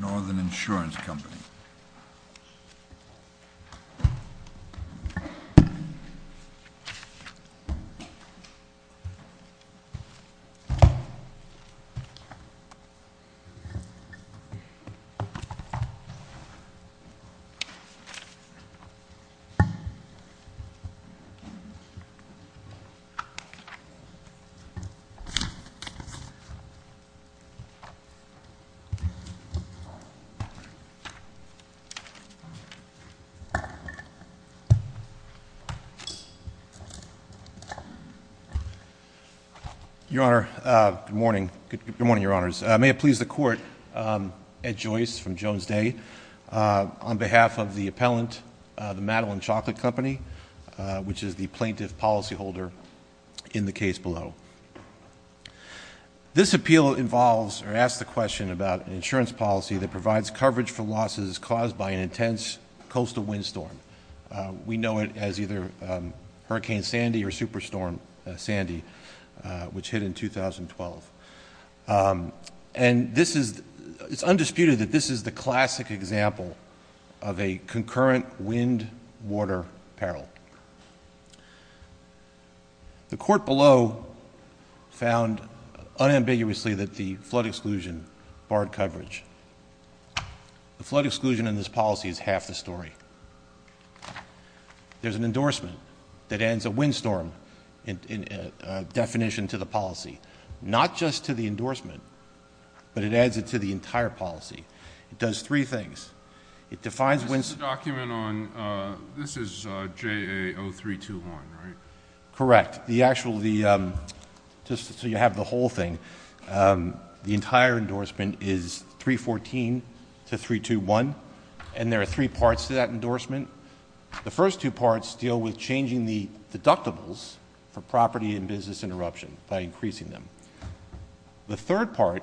organ Insurance Company. Good morning, Your Honors. May it please the Court, Ed Joyce from Jones Day, on behalf of the appellant, the Madeline This appeal involves or asks the question about an insurance policy that provides coverage for losses caused by an intense coastal windstorm. We know it as either Hurricane Sandy or Superstorm Sandy, which hit in 2012. And this is, it's undisputed that this is the classic example of a concurrent wind-water peril. The Court below found unambiguously that the flood exclusion barred coverage. The flood exclusion in this policy is half the story. There's an endorsement that adds a windstorm definition to the policy. Not just to the endorsement, but it adds it to the entire policy. It does three things. It defines windstorm... This is the document on, this is JA0321, right? Correct. The actual, the, just so you have the whole thing, the entire endorsement is 314 to 321, and there are three parts to that endorsement. The first two parts deal with changing the deductibles for property and business interruption by increasing them. The third part,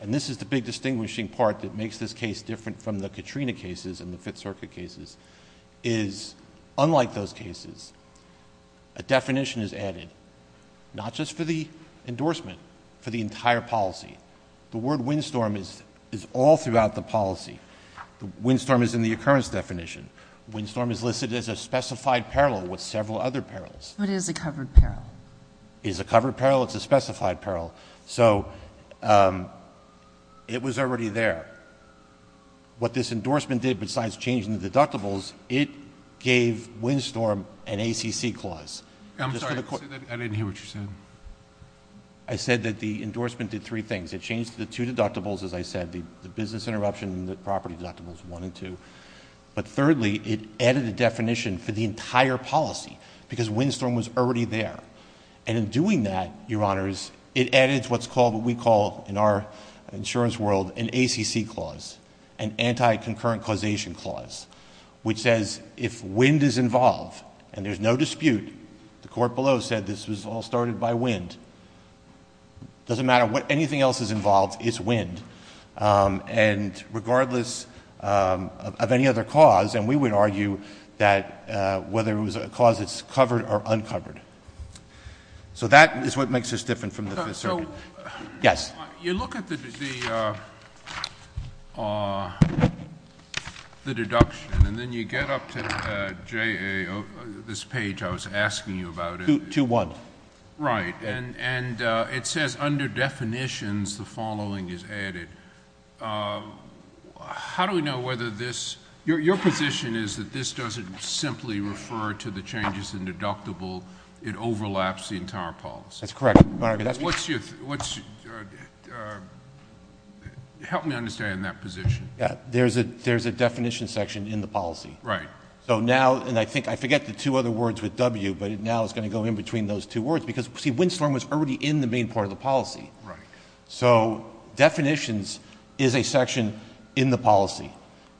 and this is the big distinguishing part that makes this case different from the Katrina cases and the Fifth Circuit cases, is unlike those cases, a definition is added, not just for the endorsement, for the entire policy. The word windstorm is all throughout the policy. Windstorm is in the occurrence definition. Windstorm is listed as a specified peril with several other perils. But it is a covered peril. It's a covered peril. It's a specified peril. So it was already there. What this endorsement did besides changing the deductibles, it gave windstorm an ACC clause. I'm sorry. Say that again. I didn't hear what you said. I said that the endorsement did three things. It changed the two deductibles, as I said, the business interruption and the property deductibles, one and two. But thirdly, it added a definition for the entire policy because windstorm was already there. And in doing that, Your Honors, it added what's called, what we call in our insurance world, an ACC clause, an anti-concurrent causation clause, which says if wind is involved and there's no dispute, the court below said this was all started by wind, doesn't matter what anything else is involved, it's wind. And regardless of any other cause, and we would argue that whether it was a cause that's covered or uncovered. So that is what makes us different from the Fifth Circuit. Yes. You look at the deduction and then you get up to JAO, this page I was asking you about. 2-1. Right. And it says under definitions, the following is added. How do we know whether this, your position is that this doesn't simply refer to the changes in deductible, it overlaps the entire policy. That's correct. What's your, help me understand that position. There's a definition section in the policy. Right. So now, and I think, I forget the two other words with W, but now it's going to go in between those two words because, see, Windstorm was already in the main part of the policy. So definitions is a section in the policy,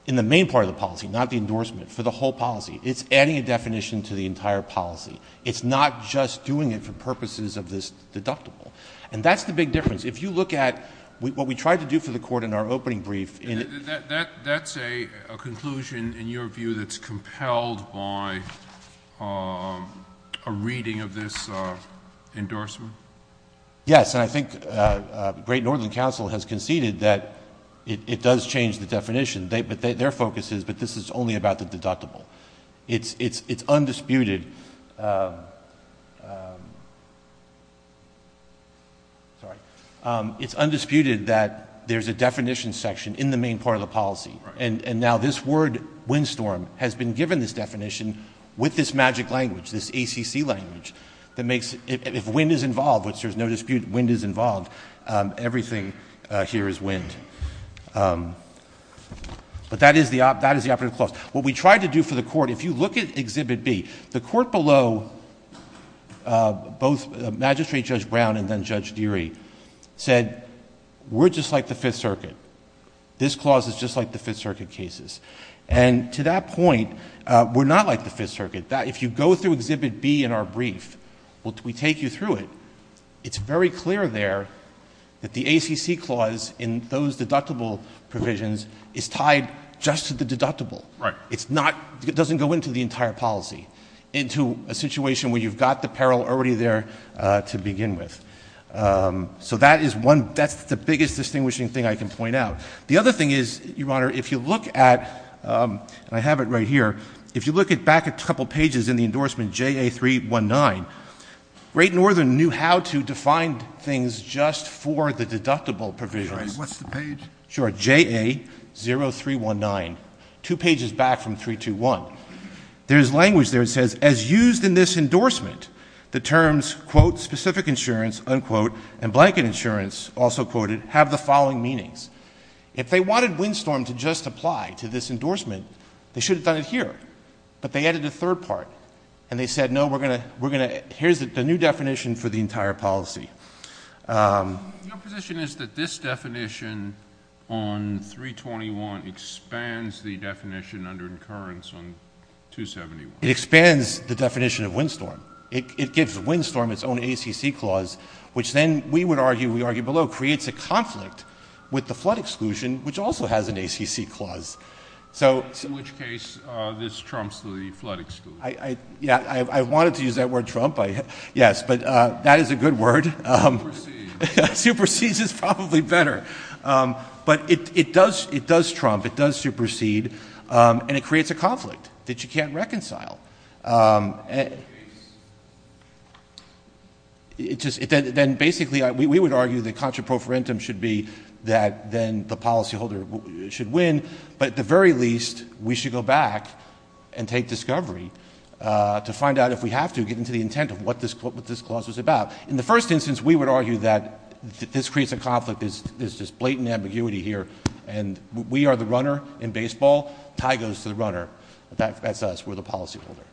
in the main part of the policy, not the endorsement, for the whole policy. It's adding a definition to the entire policy. It's not just doing it for purposes of this deductible. And that's the big difference. If you look at what we tried to do for the court in our opening brief... Yes, and I think Great Northern Council has conceded that it does change the definition. Their focus is, but this is only about the deductible. It's undisputed... sorry. It's undisputed that there's a definition section in the main part of the policy. And now this word, Windstorm, has been given this definition with this magic language, this ACC language, that makes... if wind is involved, which there's no dispute wind is involved, everything here is wind. But that is the operative clause. What we tried to do for the court, if you look at Exhibit B, the court below, both Magistrate Judge Brown and then Judge Deary, said, we're just like the Fifth Circuit. This clause is just like the Fifth Circuit cases. And to that point, we're not like the Fifth Circuit. If you go through Exhibit B in our brief, we take you through it, it's very clear there that the ACC clause in those deductible provisions is tied just to the deductible. It's not... it doesn't go into the entire policy, into a situation where you've got the peril already there to begin with. So that is one... that's the biggest distinguishing thing I can point out. The other thing is, Your Honor, if you look at... and I have it right here. If you look back a couple pages in the endorsement JA-319, Great Northern knew how to define things just for the deductible provisions. What's the page? Sure. JA-0319. Two pages back from 321. There's language there that says, as used in this endorsement, the terms, quote, specific insurance, unquote, and blanket insurance, also quoted, have the following meanings. If they wanted WinStorm to just apply to this endorsement, they should have done it here. But they added a third part, and they said, no, we're going to... here's the new definition for the entire policy. Your position is that this definition on 321 expands the definition under incurrence on 271. It expands the definition of WinStorm. It gives WinStorm its own ACC clause, which then, we would argue, we argue below, creates a conflict with the flood exclusion, which also has an ACC clause. So... In which case, this trumps the flood exclusion. Yeah. I wanted to use that word, trump. But that is a good word. Supersedes. Supersedes is probably better. But it does trump, it does supersede, and it creates a conflict that you can't reconcile. It just... then, basically, we would argue the contraprofarentum should be that then the policyholder should win, but at the very least, we should go back and take discovery to find out if we have to get into the intent of what this clause is about. In the first instance, we would argue that this creates a conflict, there's this blatant ambiguity here, and we are the runner in baseball, tie goes to the runner. That's us. We're the policyholder.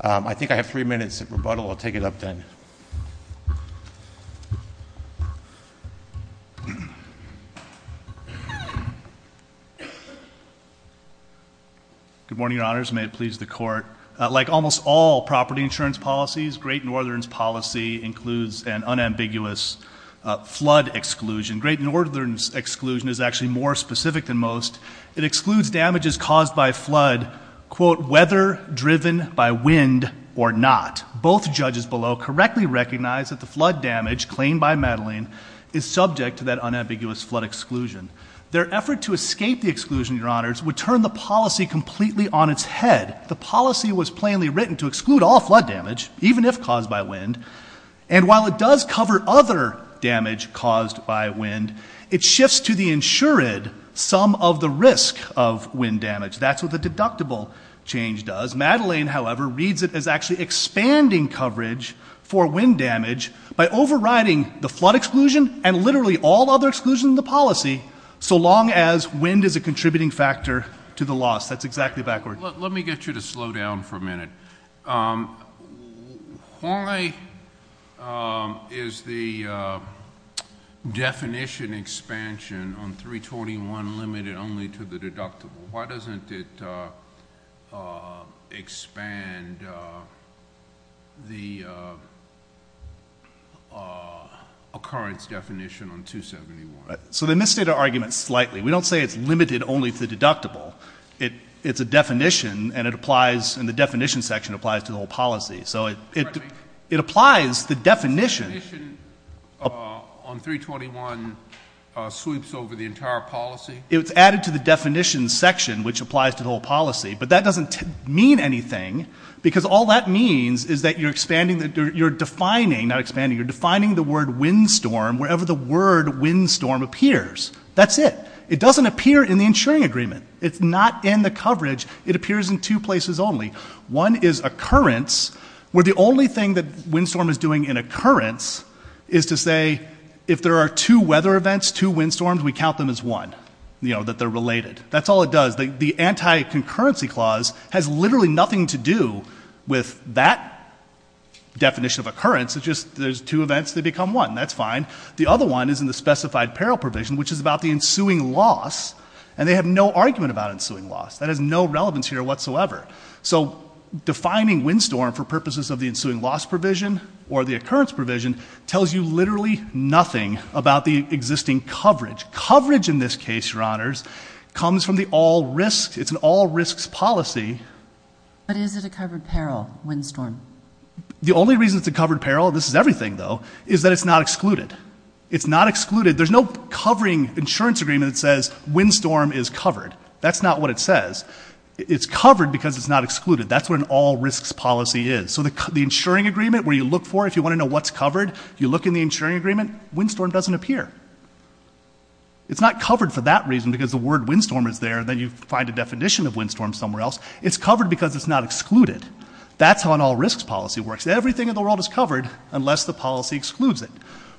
I think I have three minutes of rebuttal. I'll take it up then. Good morning, Your Honors. May it please the Court. Like almost all property insurance policies, Great Northern's policy includes an unambiguous flood exclusion. Great Northern's exclusion is actually more specific than most. It excludes damages caused by flood, quote, whether driven by wind or not. Both judges below correctly recognize that the flood damage claimed by Madeline is subject to that unambiguous flood exclusion. Their effort to escape the exclusion, Your Honors, would turn the policy completely on its head. The policy was plainly written to exclude all flood damage, even if caused by wind. And while it does cover other damage caused by wind, it shifts to the insured some of the risk of wind damage. That's what the deductible change does. Madeline, however, reads it as actually expanding coverage for wind damage by overriding the flood exclusion and literally all other exclusion in the policy, so long as wind is a contributing factor to the loss. That's exactly backward. Let me get you to slow down for a minute. Why is the definition expansion on 321 limited only to the deductible? Why doesn't it expand the occurrence definition on 271? So they misstate our argument slightly. We don't say it's limited only to the deductible. It's a definition, and the definition section applies to the whole policy. So it applies the definition. The definition on 321 sweeps over the entire policy? It's added to the definition section, which applies to the whole policy, but that doesn't mean anything, because all that means is that you're defining the word windstorm wherever the word windstorm appears. That's it. It doesn't appear in the insuring agreement. It's not in the coverage. It appears in two places only. One is occurrence, where the only thing that windstorm is doing in occurrence is to say if there are two weather events, two windstorms, we count them as one, that they're related. That's all it does. The anti-concurrency clause has literally nothing to do with that definition of occurrence. It's just there's two events. They become one. That's fine. The other one is in the specified peril provision, which is about the ensuing loss, and they have no argument about ensuing loss. That has no relevance here whatsoever. So defining windstorm for purposes of the ensuing loss provision or the occurrence provision tells you literally nothing about the existing coverage. Coverage in this case, Your Honors, comes from the all risks. It's an all risks policy. But is it a covered peril, windstorm? The only reason it's a covered peril, this is everything though, is that it's not excluded. It's not excluded. There's no covering insurance agreement that says windstorm is covered. That's not what it says. It's covered because it's not excluded. That's what an all risks policy is. So the insuring agreement where you look for if you want to know what's covered, you look in the insuring agreement, windstorm doesn't appear. It's not covered for that reason because the word windstorm is there and then you find a definition of windstorm somewhere else. It's covered because it's not excluded. That's how an all risks policy works. Everything in the world is covered unless the policy excludes it.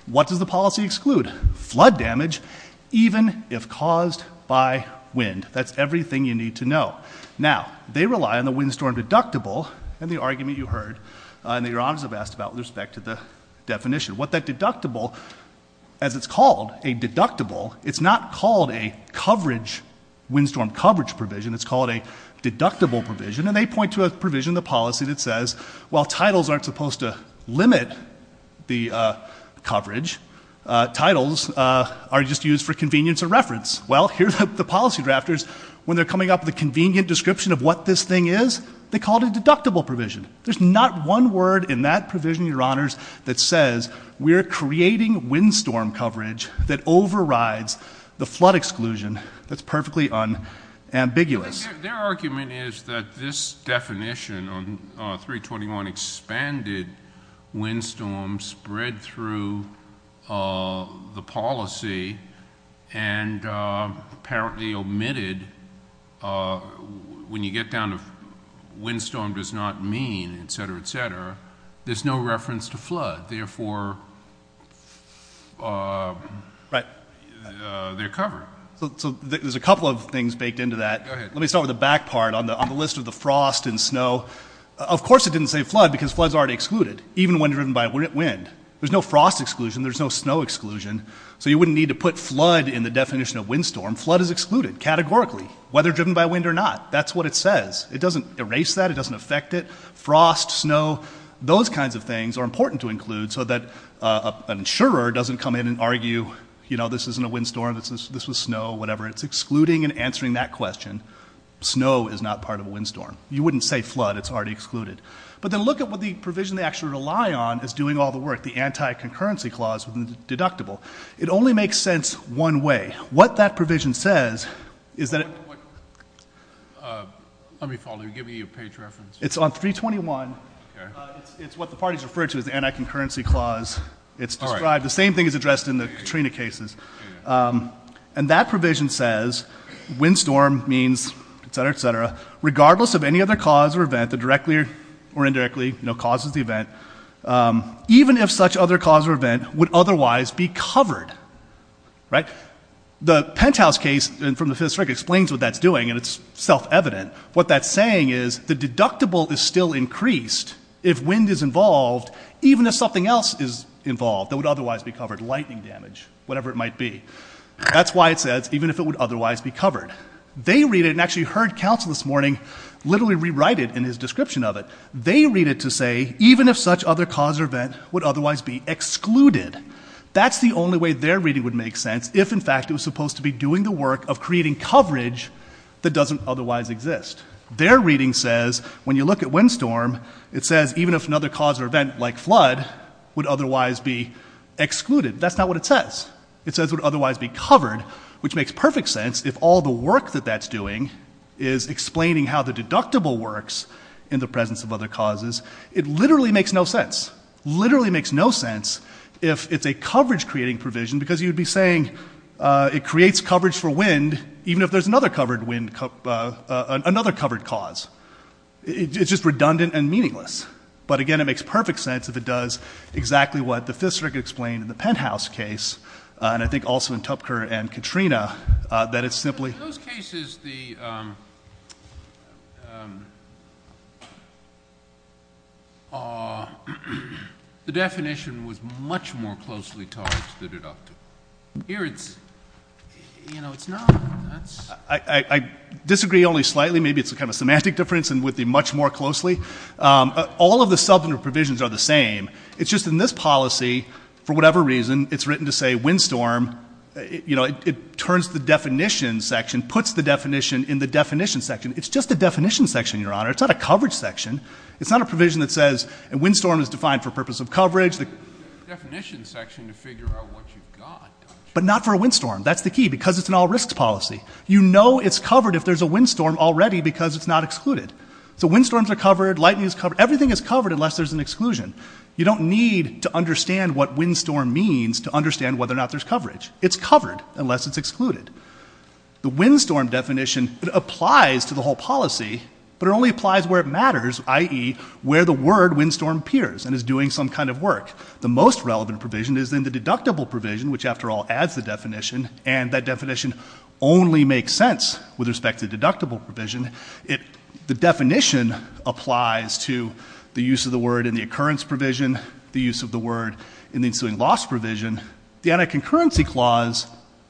What does the policy exclude? Flood damage even if caused by wind. That's everything you need to know. Now, they rely on the windstorm deductible and the argument you heard and that Your Honors have asked about with respect to the definition. What that deductible, as it's called a deductible, it's not called a coverage, windstorm coverage provision, it's called a deductible provision and they point to a provision in the policy that says while titles aren't supposed to limit the coverage, titles are just used for convenience of reference. Well, here's the policy drafters when they're coming up with a convenient description of what this thing is, they call it a deductible provision. There's not one word in that provision, Your Honors, that says we're creating windstorm coverage that overrides the flood exclusion that's perfectly unambiguous. Their argument is that this definition on 321 expanded windstorm spread through the policy and apparently omitted when you get down to windstorm does not mean, et cetera, et cetera, there's no reference to flood. Therefore, they're covered. So there's a couple of things baked into that. Go ahead. Let me start with the back part on the list of the frost and snow. Of course it didn't say flood because flood's already excluded, even when driven by wind. There's no frost exclusion. There's no snow exclusion. So you wouldn't need to put flood in the definition of windstorm. Flood is excluded categorically, whether driven by wind or not. That's what it says. It doesn't erase that. It doesn't affect it. Frost, snow, those kinds of things are important to include so that an insurer doesn't come in and argue, you know, this isn't a windstorm. This was snow, whatever. It's excluding and answering that question. Snow is not part of a windstorm. You wouldn't say flood. It's already excluded. But then look at what the provision they actually rely on is doing all the work, the anti-concurrency clause with the deductible. It only makes sense one way. What that provision says is that it — Let me follow. Give me a page reference. It's on 321. Okay. It's what the parties refer to as the anti-concurrency clause. It's described — All right. The same thing is addressed in the Katrina cases. And that provision says windstorm means, et cetera, et cetera, regardless of any other cause or event that directly or indirectly causes the event, even if such other cause or event would otherwise be covered. Right? The Penthouse case from the Fifth Circuit explains what that's doing, and it's self-evident. What that's saying is the deductible is still increased if wind is involved, even if something else is involved that would otherwise be covered. Lightning damage, whatever it might be. That's why it says, even if it would otherwise be covered. They read it and actually heard counsel this morning literally rewrite it in his description of it. They read it to say, even if such other cause or event would otherwise be excluded. That's the only way their reading would make sense if, in fact, it was supposed to be doing the work of creating coverage that doesn't otherwise exist. Their reading says, when you look at windstorm, it says, even if another cause or event, like a flood, would otherwise be excluded. That's not what it says. It says it would otherwise be covered, which makes perfect sense if all the work that that's doing is explaining how the deductible works in the presence of other causes. It literally makes no sense. Literally makes no sense if it's a coverage-creating provision, because you'd be saying it creates coverage for wind, even if there's another covered cause. It's just redundant and meaningless. But, again, it makes perfect sense if it does exactly what the fifth circuit explained in the Penthouse case, and I think also in Tupker and Katrina, that it's simply— In those cases, the definition was much more closely charged than deducted. Here, it's not. I disagree only slightly. Maybe it's kind of a semantic difference and with the much more closely. All of the substantive provisions are the same. It's just in this policy, for whatever reason, it's written to say windstorm. It turns the definition section, puts the definition in the definition section. It's just a definition section, Your Honor. It's not a coverage section. It's not a provision that says a windstorm is defined for purpose of coverage. It's a definition section to figure out what you've got. But not for a windstorm. That's the key, because it's an all-risks policy. You know it's covered if there's a windstorm already, because it's not excluded. So windstorms are covered. Lightning is covered. Everything is covered unless there's an exclusion. You don't need to understand what windstorm means to understand whether or not there's coverage. It's covered unless it's excluded. The windstorm definition applies to the whole policy, but it only applies where it matters, i.e., where the word windstorm appears and is doing some kind of work. The most relevant provision is in the deductible provision, which, after all, adds the definition, and that definition only makes sense with respect to deductible provision. The definition applies to the use of the word in the occurrence provision, the use of the word in the ensuing loss provision. The anti-concurrency clause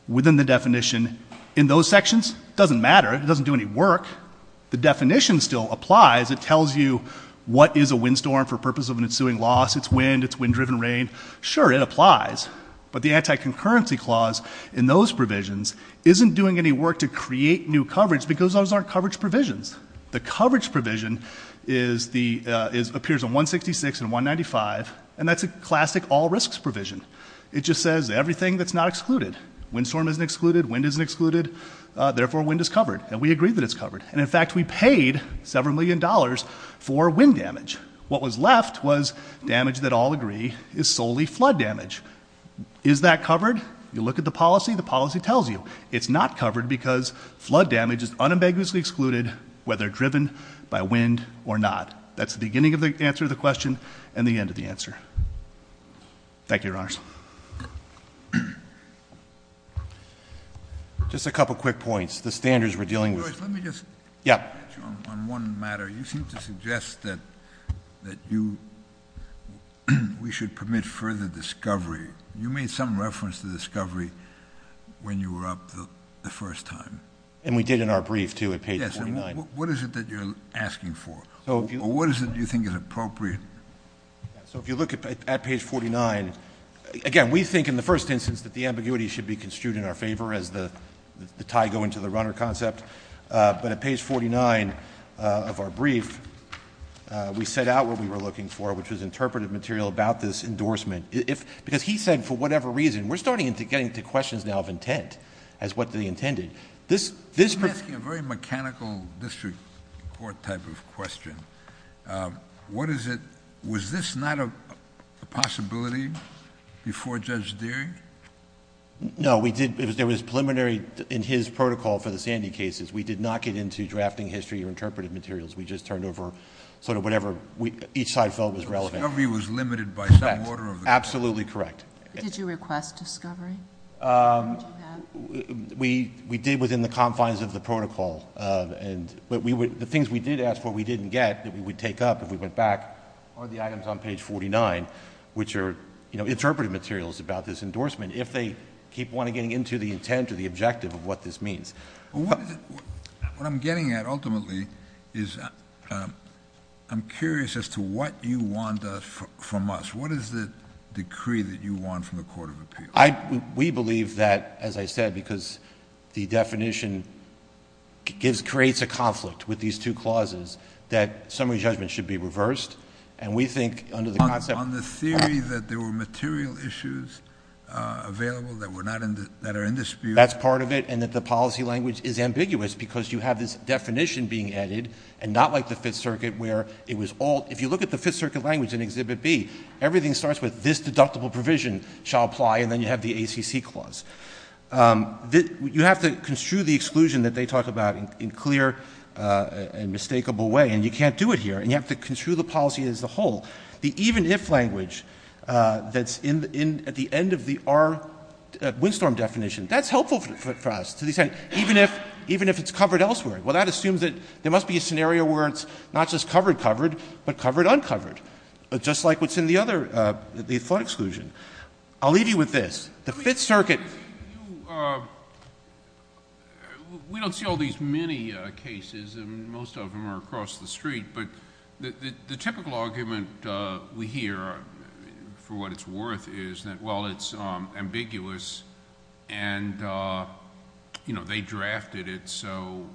within the definition in those sections doesn't matter. It doesn't do any work. The definition still applies. It tells you what is a windstorm for purpose of an ensuing loss. It's wind. It's wind-driven rain. Sure, it applies, but the anti-concurrency clause in those provisions isn't doing any work to create new coverage because those aren't coverage provisions. The coverage provision appears in 166 and 195, and that's a classic all-risks provision. It just says everything that's not excluded. Windstorm isn't excluded. Wind isn't excluded. Therefore, wind is covered, and we agree that it's covered. And, in fact, we paid several million dollars for wind damage. What was left was damage that all agree is solely flood damage. Is that covered? You look at the policy, the policy tells you. It's not covered because flood damage is unambiguously excluded whether driven by wind or not. That's the beginning of the answer to the question and the end of the answer. Thank you, Your Honors. Just a couple quick points. The standards we're dealing with. Let me just touch on one matter. You seem to suggest that we should permit further discovery. You made some reference to discovery when you were up the first time. And we did in our brief, too, at page 49. Yes, and what is it that you're asking for? Or what is it you think is appropriate? So if you look at page 49, again, we think in the first instance that the ambiguity should be construed in our favor as the tie going to the runner concept. But at page 49 of our brief, we set out what we were looking for, which was interpretive material about this endorsement. Because he said for whatever reason, we're starting to get into questions now of intent as what they intended. I'm asking a very mechanical district court type of question. What is it? Was this not a possibility before Judge Deering? No, there was preliminary in his protocol for the Sandy cases. We did not get into drafting history or interpretive materials. We just turned over sort of whatever each side felt was relevant. Discovery was limited by some order of the court. Absolutely correct. Did you request discovery? We did within the confines of the protocol. But the things we did ask for we didn't get that we would take up if we went back are the items on page 49, which are interpretive materials about this endorsement if they keep wanting to get into the intent or the objective of what this means. What I'm getting at ultimately is I'm curious as to what you want from us. What is the decree that you want from the Court of Appeals? We believe that, as I said, because the definition creates a conflict with these two clauses, that summary judgment should be reversed. And we think under the concept of On the theory that there were material issues available that are in dispute That's part of it. And that the policy language is ambiguous because you have this definition being added and not like the Fifth Circuit where it was all If you look at the Fifth Circuit language in Exhibit B, everything starts with this deductible provision shall apply and then you have the ACC clause. You have to construe the exclusion that they talk about in clear and mistakable way. And you can't do it here. And you have to construe the policy as a whole. The even if language that's at the end of the R windstorm definition, that's helpful for us to the extent even if it's covered elsewhere. Well, that assumes that there must be a scenario where it's not just covered covered but covered uncovered, just like what's in the other, the flood exclusion. I'll leave you with this. The Fifth Circuit We don't see all these many cases and most of them are across the street, but the typical argument we hear for what it's worth is that, well, it's ambiguous and they drafted it so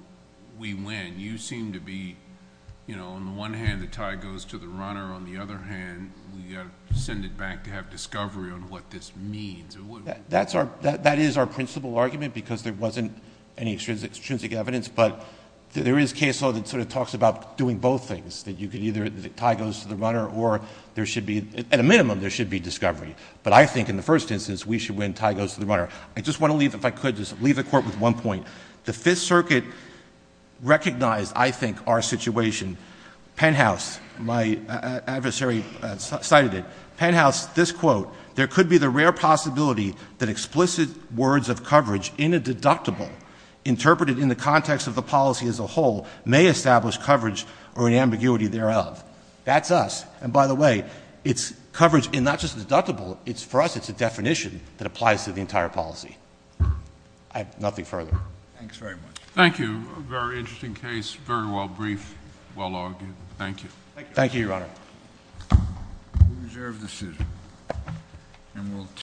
we win. You seem to be, on the one hand, the tie goes to the runner. On the other hand, we have to send it back to have discovery on what this means. That is our principal argument because there wasn't any extrinsic evidence, but there is case law that sort of talks about doing both things, that you can either tie goes to the runner or there should be, at a minimum, there should be discovery. But I think in the first instance we should win tie goes to the runner. I just want to leave, if I could, just leave the court with one point. The Fifth Circuit recognized, I think, our situation. Penthouse, my adversary cited it. Penthouse, this quote, there could be the rare possibility that explicit words of coverage in a deductible interpreted in the context of the policy as a whole may establish coverage or an ambiguity thereof. That's us. And by the way, it's coverage in not just deductible, for us it's a definition that applies to the entire policy. I have nothing further. Thanks very much. Thank you. A very interesting case. Very well briefed. Well argued. Thank you. Thank you, Your Honor. We reserve the suit.